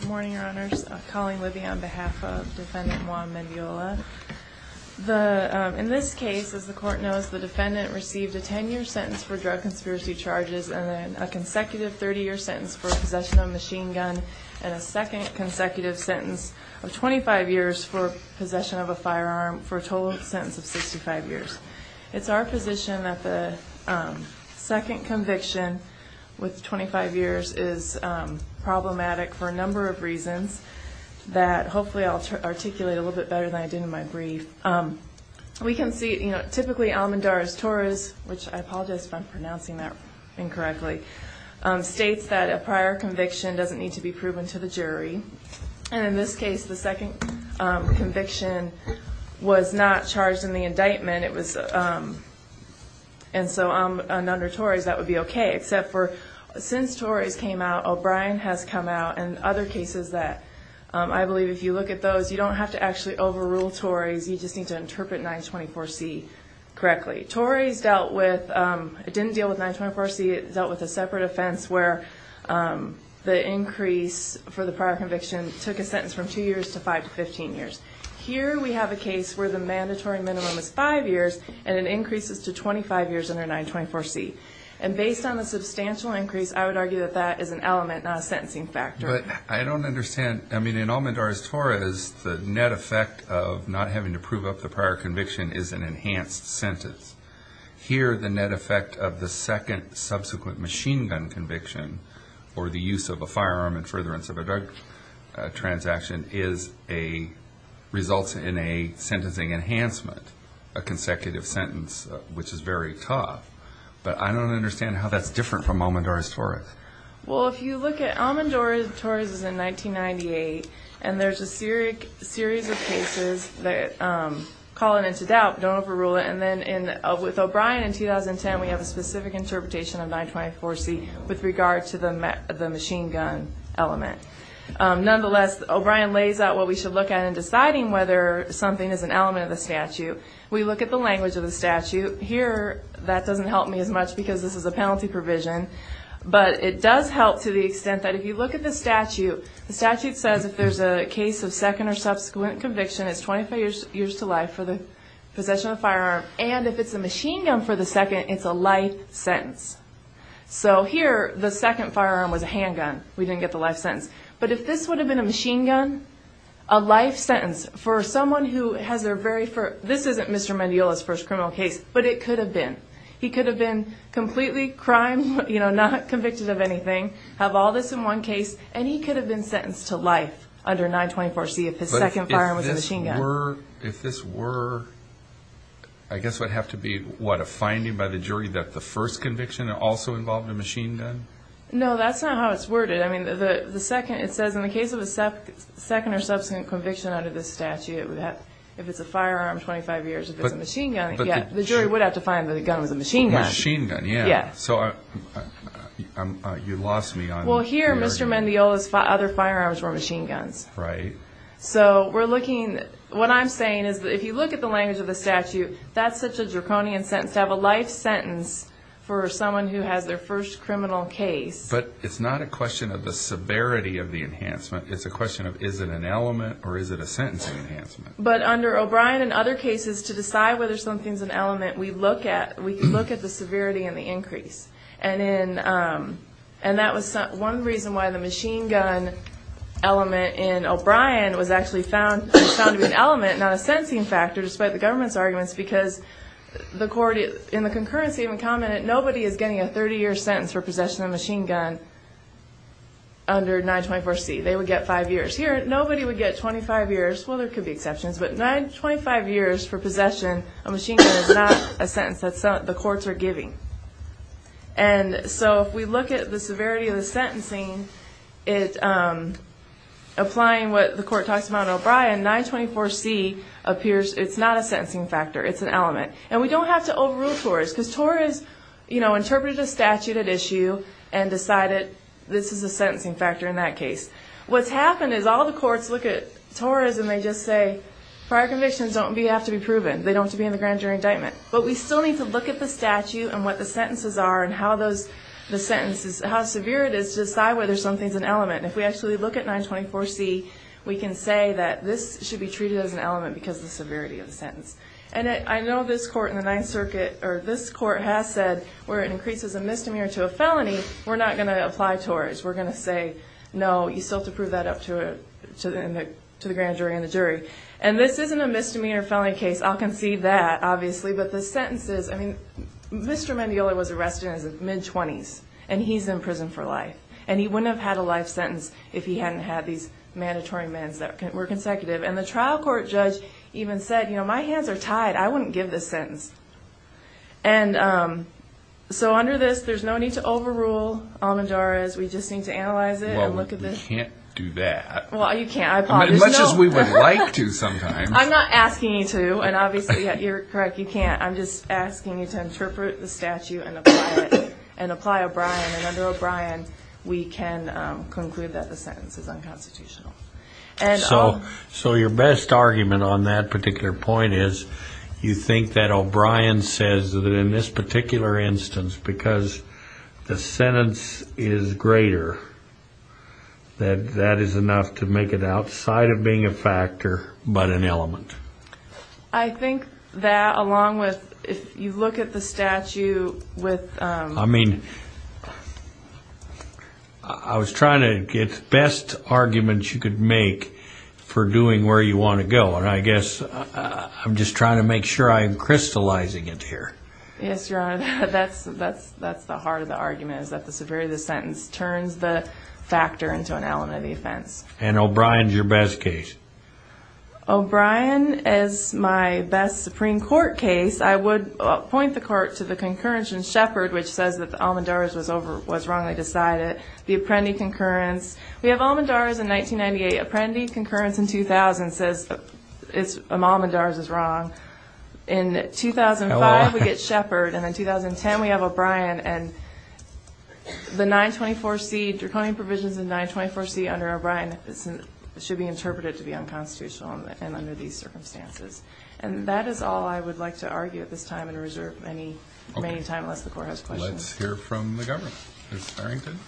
Good morning, your honors. Colleen Libby on behalf of defendant Juan Mendiola. In this case, as the court knows, the defendant received a 10-year sentence for drug conspiracy charges and a consecutive 30-year sentence for possession of a machine gun and a second consecutive sentence of 25 years for possession of a firearm for a total sentence of 65 years. It's our position that the second conviction with 25 years is problematic for a number of reasons that hopefully I'll articulate a little bit better than I did in my brief. We can see, you know, typically Almendarez-Torres, which I apologize if I'm pronouncing that incorrectly, states that a prior conviction doesn't need to be proven to the jury. And in this case, the second conviction was not charged in the indictment. It was, and so under Torres, that would be okay. Except for since Torres came out, O'Brien has come out and other cases that I believe if you look at those, you don't have to actually overrule Torres, you just need to interpret 924C correctly. Torres dealt with, it didn't deal with 924C, it dealt with a separate offense where the increase for the prior conviction took a sentence from two years to five to 15 years. Here we have a case where the mandatory minimum is five years, and it was 924C. And based on the substantial increase, I would argue that that is an element, not a sentencing factor. But I don't understand, I mean, in Almendarez-Torres, the net effect of not having to prove up the prior conviction is an enhanced sentence. Here, the net effect of the second subsequent machine gun conviction, or the use of a firearm and furtherance of a drug transaction is a, results in a sentencing enhancement, a but I don't understand how that's different from Almendarez-Torres. Well, if you look at Almendarez-Torres is in 1998, and there's a series of cases that call it into doubt, don't overrule it, and then with O'Brien in 2010, we have a specific interpretation of 924C with regard to the machine gun element. Nonetheless, O'Brien lays out what we should look at in deciding whether something is an element of the statute. We look at the language of the statute. Here, that doesn't help me as much because this is a penalty provision, but it does help to the extent that if you look at the statute, the statute says if there's a case of second or subsequent conviction, it's 25 years to life for the possession of firearm, and if it's a machine gun for the second, it's a life sentence. So here, the second firearm was a handgun. We didn't get the life sentence. But if this would have been a machine gun, a life sentence for someone who has their very first, this isn't Mr. Mendiola's first criminal case, but it could have been. He could have been completely crime, you know, not convicted of anything, have all this in one case, and he could have been sentenced to life under 924C if his second firearm was a machine gun. But if this were, I guess it would have to be, what, a finding by the jury that the first conviction also involved a machine gun? No, that's not how it's worded. I mean, the second, it says in the case of a second or subsequent conviction under this statute, if it's a firearm, 25 years, if it's a machine gun, yeah, the jury would have to find that the gun was a machine gun. A machine gun, yeah. So you lost me on... Well, here, Mr. Mendiola's other firearms were machine guns. Right. So we're looking, what I'm saying is that if you look at the language of the statute, that's such a draconian sentence, to have a life sentence for someone who has their first criminal case. But it's not a question of the severity of the enhancement, it's a question of is it an element or is it a sentencing enhancement? But under O'Brien and other cases, to decide whether something's an element, we look at the severity and the increase. And that was one reason why the machine gun element in O'Brien was actually found to be an element, not a sentencing factor, despite the government's arguments, because the court in the concurrency even commented nobody is getting a 30-year sentence for possession of a machine gun under 924C. They would get five years. Here, nobody would get 25 years. Well, there could be exceptions, but 25 years for possession of a machine gun is not a sentence that the courts are giving. And so if we look at the severity of the sentencing, applying what the court talks about in O'Brien, 924C appears it's not a sentencing factor, it's an element. And we don't have to overrule Torres, because Torres interpreted a statute at issue and decided this is a sentencing factor in that case. What's happened is all the courts look at Torres and they just say, prior convictions don't have to be proven. They don't have to be in the grand jury indictment. But we still need to look at the statute and what the sentences are and how those sentences, how severe it is to decide whether something's an element. If we actually look at 924C, we can say that this should be treated as an element because of the severity of the sentence. And I know this court in the 9th Circuit, or this court has said, where it increases a misdemeanor to a felony, we're not going to apply Torres. We're going to say, no, you still have to prove that up to the grand jury and the jury. And this isn't a misdemeanor felony case. I'll concede that, obviously. But the sentences, I mean, Mr. Mandiola was arrested in his mid-20s and he's in prison for life. And he wouldn't have had a life sentence if he hadn't had these mandatory amends that were consecutive. And the trial court judge even said, you know, my hands are tied. I wouldn't give this sentence. And so under this, there's no need to overrule Almendara's. We just need to analyze it and look at this. Well, we can't do that. Well, you can't. I apologize. As much as we would like to sometimes. I'm not asking you to. And obviously, you're correct, you can't. I'm just asking you to interpret the statute and apply it and apply O'Brien. And under O'Brien, we can conclude that the sentence is unconstitutional. So your best argument on that particular point is, you think that O'Brien says that in this particular instance, because the sentence is greater, that that is enough to make it outside of being a factor, but an element. I think that along with, if you look at the statute with... I mean, I was trying to get best arguments you could make for doing where you want to go. And I guess I'm just trying to make sure I'm crystallizing it here. Yes, Your Honor, that's the heart of the argument, is that the severity of the sentence turns the factor into an element of the offense. And O'Brien's your best case. O'Brien is my best Supreme Court case. I would point the court to the concurrence in Shepard, which says that Almendara's was wrongly decided. The Apprendi concurrence. We have Almendara's in 1998. Apprendi concurrence in 2000 says Almendara's is wrong. In 2005, we get Shepard. And in 2010, we have O'Brien. And the 924C, draconian provisions in 924C under O'Brien should be interpreted to be unconstitutional and under these circumstances. And that is all I would like to argue at this time and reserve any time, unless the court has questions. Let's hear from the government. Ms. Farrington.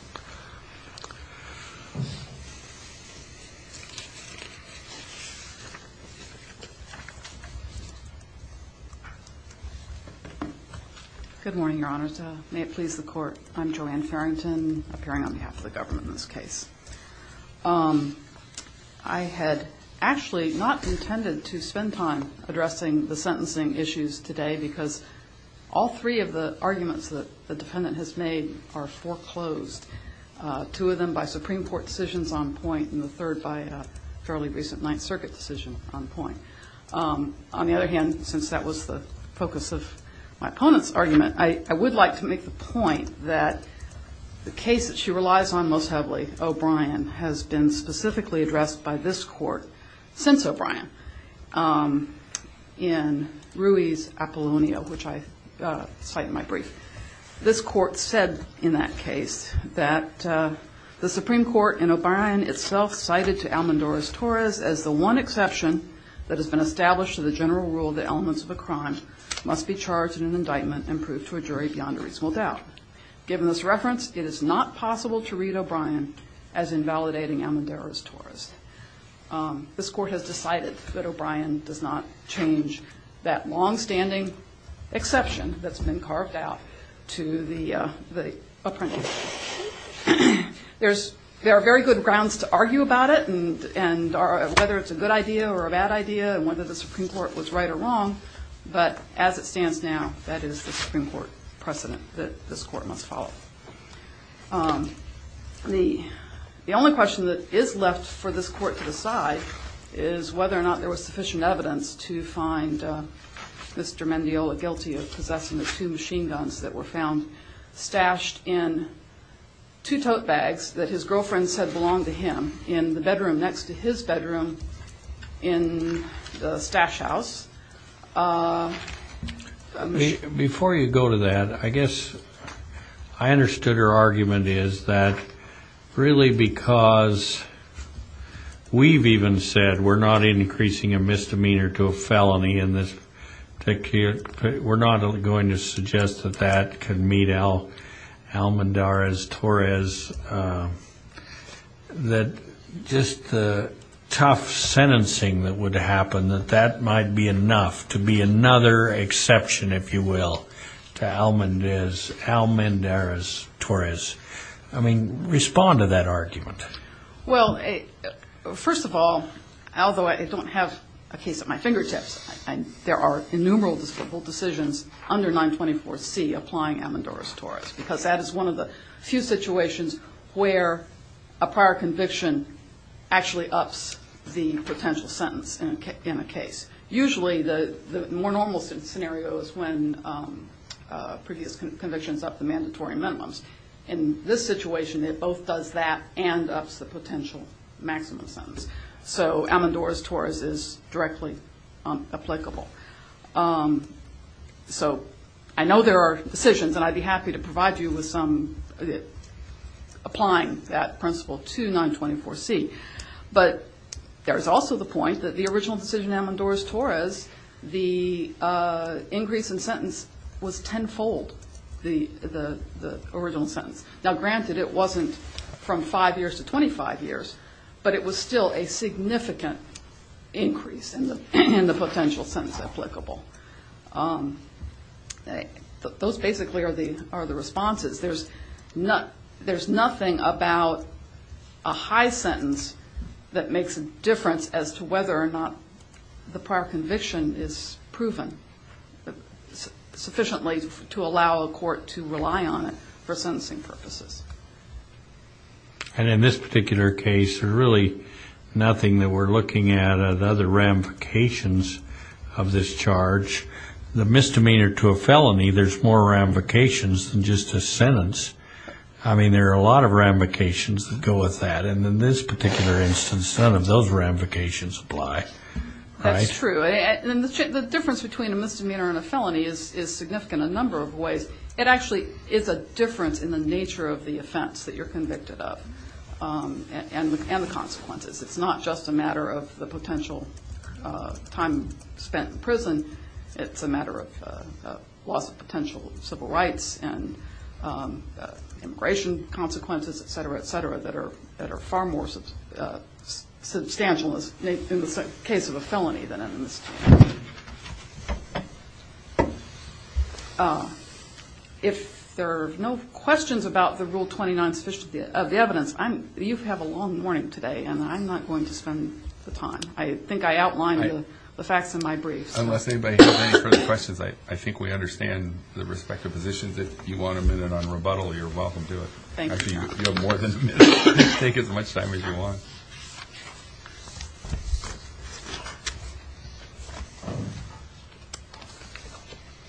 Good morning, Your Honor. May it please the court. I'm Joanne Farrington, appearing on behalf of the government in this case. I had actually not intended to spend time addressing the sentencing issues today because all three of the arguments that the defendant has made are foreclosed, two of them by Supreme Court decisions on point, and the third by a fairly recent Ninth Circuit decision on point. On the other hand, since that was the focus of my opponent's argument, I would like to make the point that the case that she relies on most heavily, O'Brien, has been specifically addressed by this court since O'Brien in Ruiz-Apollonio, which I cite in my brief. This court said in that case that the Supreme Court in O'Brien itself cited to Almendarez-Torres as the one exception that has been established to the general rule that elements of a crime must be charged in an indictment and proved to a jury beyond a reasonable doubt. Given this reference, it is not possible to read O'Brien as invalidating Almendarez-Torres. This court has decided that O'Brien does not change that There are very good grounds to argue about it and whether it's a good idea or a bad idea and whether the Supreme Court was right or wrong, but as it stands now, that is the Supreme Court precedent that this court must follow. The only question that is left for this court to decide is whether or not there was sufficient evidence to find Mr. Mendiola guilty of possessing the two that were found stashed in two tote bags that his girlfriend said belonged to him in the bedroom next to his bedroom in the stash house. Before you go to that, I guess I understood her argument is that really because we've even said we're not increasing a misdemeanor to a felony in this particular case, we're not going to suggest that that can meet Almendarez-Torres. That just the tough sentencing that would happen, that that might be enough to be another exception, if you will, to Almendarez-Torres. I mean, respond to that argument. Well, first of all, although I don't have a case at my fingertips, there are innumerable decisions under 924C applying Almendarez-Torres because that is one of the few situations where a prior conviction actually ups the potential sentence in a case. Usually, the more normal scenarios when previous convictions up the mandatory minimums. In this situation, it both does that and ups the potential maximum sentence. So Almendarez-Torres is directly applicable. So I know there are decisions and I'd be happy to provide you with applying that principle to 924C. But there's also the point that the original decision was tenfold the original sentence. Now, granted, it wasn't from five years to 25 years, but it was still a significant increase in the potential sentence applicable. Those basically are the responses. There's nothing about a high sentence that makes a the prior conviction is proven sufficiently to allow a court to rely on it for sentencing purposes. And in this particular case, there's really nothing that we're looking at other ramifications of this charge. The misdemeanor to a felony, there's more ramifications than just a sentence. I mean, there are a lot of ramifications that go with that. And in this particular instance, those ramifications apply. That's true. And the difference between a misdemeanor and a felony is significant in a number of ways. It actually is a difference in the nature of the offense that you're convicted of and the consequences. It's not just a matter of the potential time spent in prison. It's a matter of loss of potential civil rights and immigration consequences, et cetera, et cetera, that are far more substantial in the case of a felony. If there are no questions about the Rule 29 of the evidence, you have a long morning today, and I'm not going to spend the time. I think I outlined the facts in my brief. Unless anybody has any further questions, I think we understand the respective positions. If you want a minute on rebuttal, you're welcome to it. You have more than a minute. Take as much time as you want.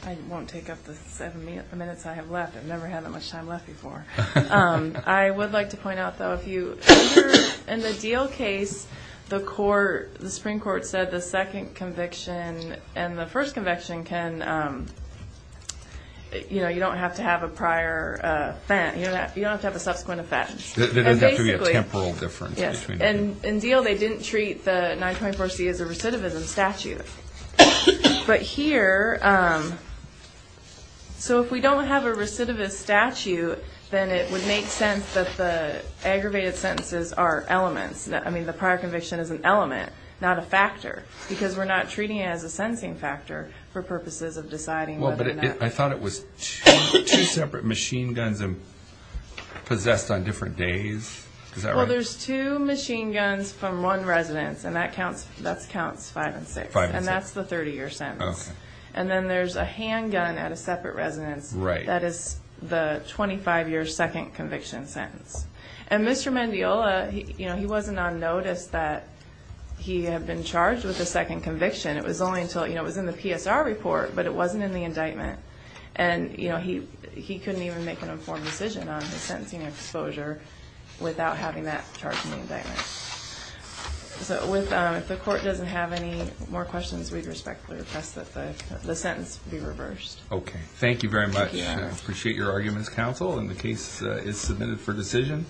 I won't take up the seven minutes I have left. I've never had that much time left before. I would like to point out, though, if you're in the deal case, the Supreme Court said the second conviction and the first conviction can, you know, you don't have to have a prior offense. You don't have to have a subsequent offense. There doesn't have to be a temporal difference. In the deal, they didn't treat the 924C as a recidivism statute. But here, so if we don't have a recidivist statute, then it would make sense that the aggravated sentences are elements. I mean, the prior conviction is an element, not a factor, because we're not treating it as a sentencing factor for purposes of deciding whether or not. I thought it was two separate machine guns possessed on different days. Is that right? Well, there's two machine guns from one residence, and that counts five and six, and that's the 30-year sentence. And then there's a handgun at a separate residence. That is the 25-year second conviction sentence. And Mr. Mandiola, you know, he wasn't on notice that he had been charged with a second conviction. It was only until, you know, it was in the PSR report, but it wasn't in the indictment. And, you know, he couldn't even make an informed decision on his sentencing exposure without having that charge in the indictment. So if the court doesn't have any more questions, we'd respectfully request that the sentence be reversed. Okay. Thank you very much. I appreciate your arguments, counsel, and the case is submitted for decision.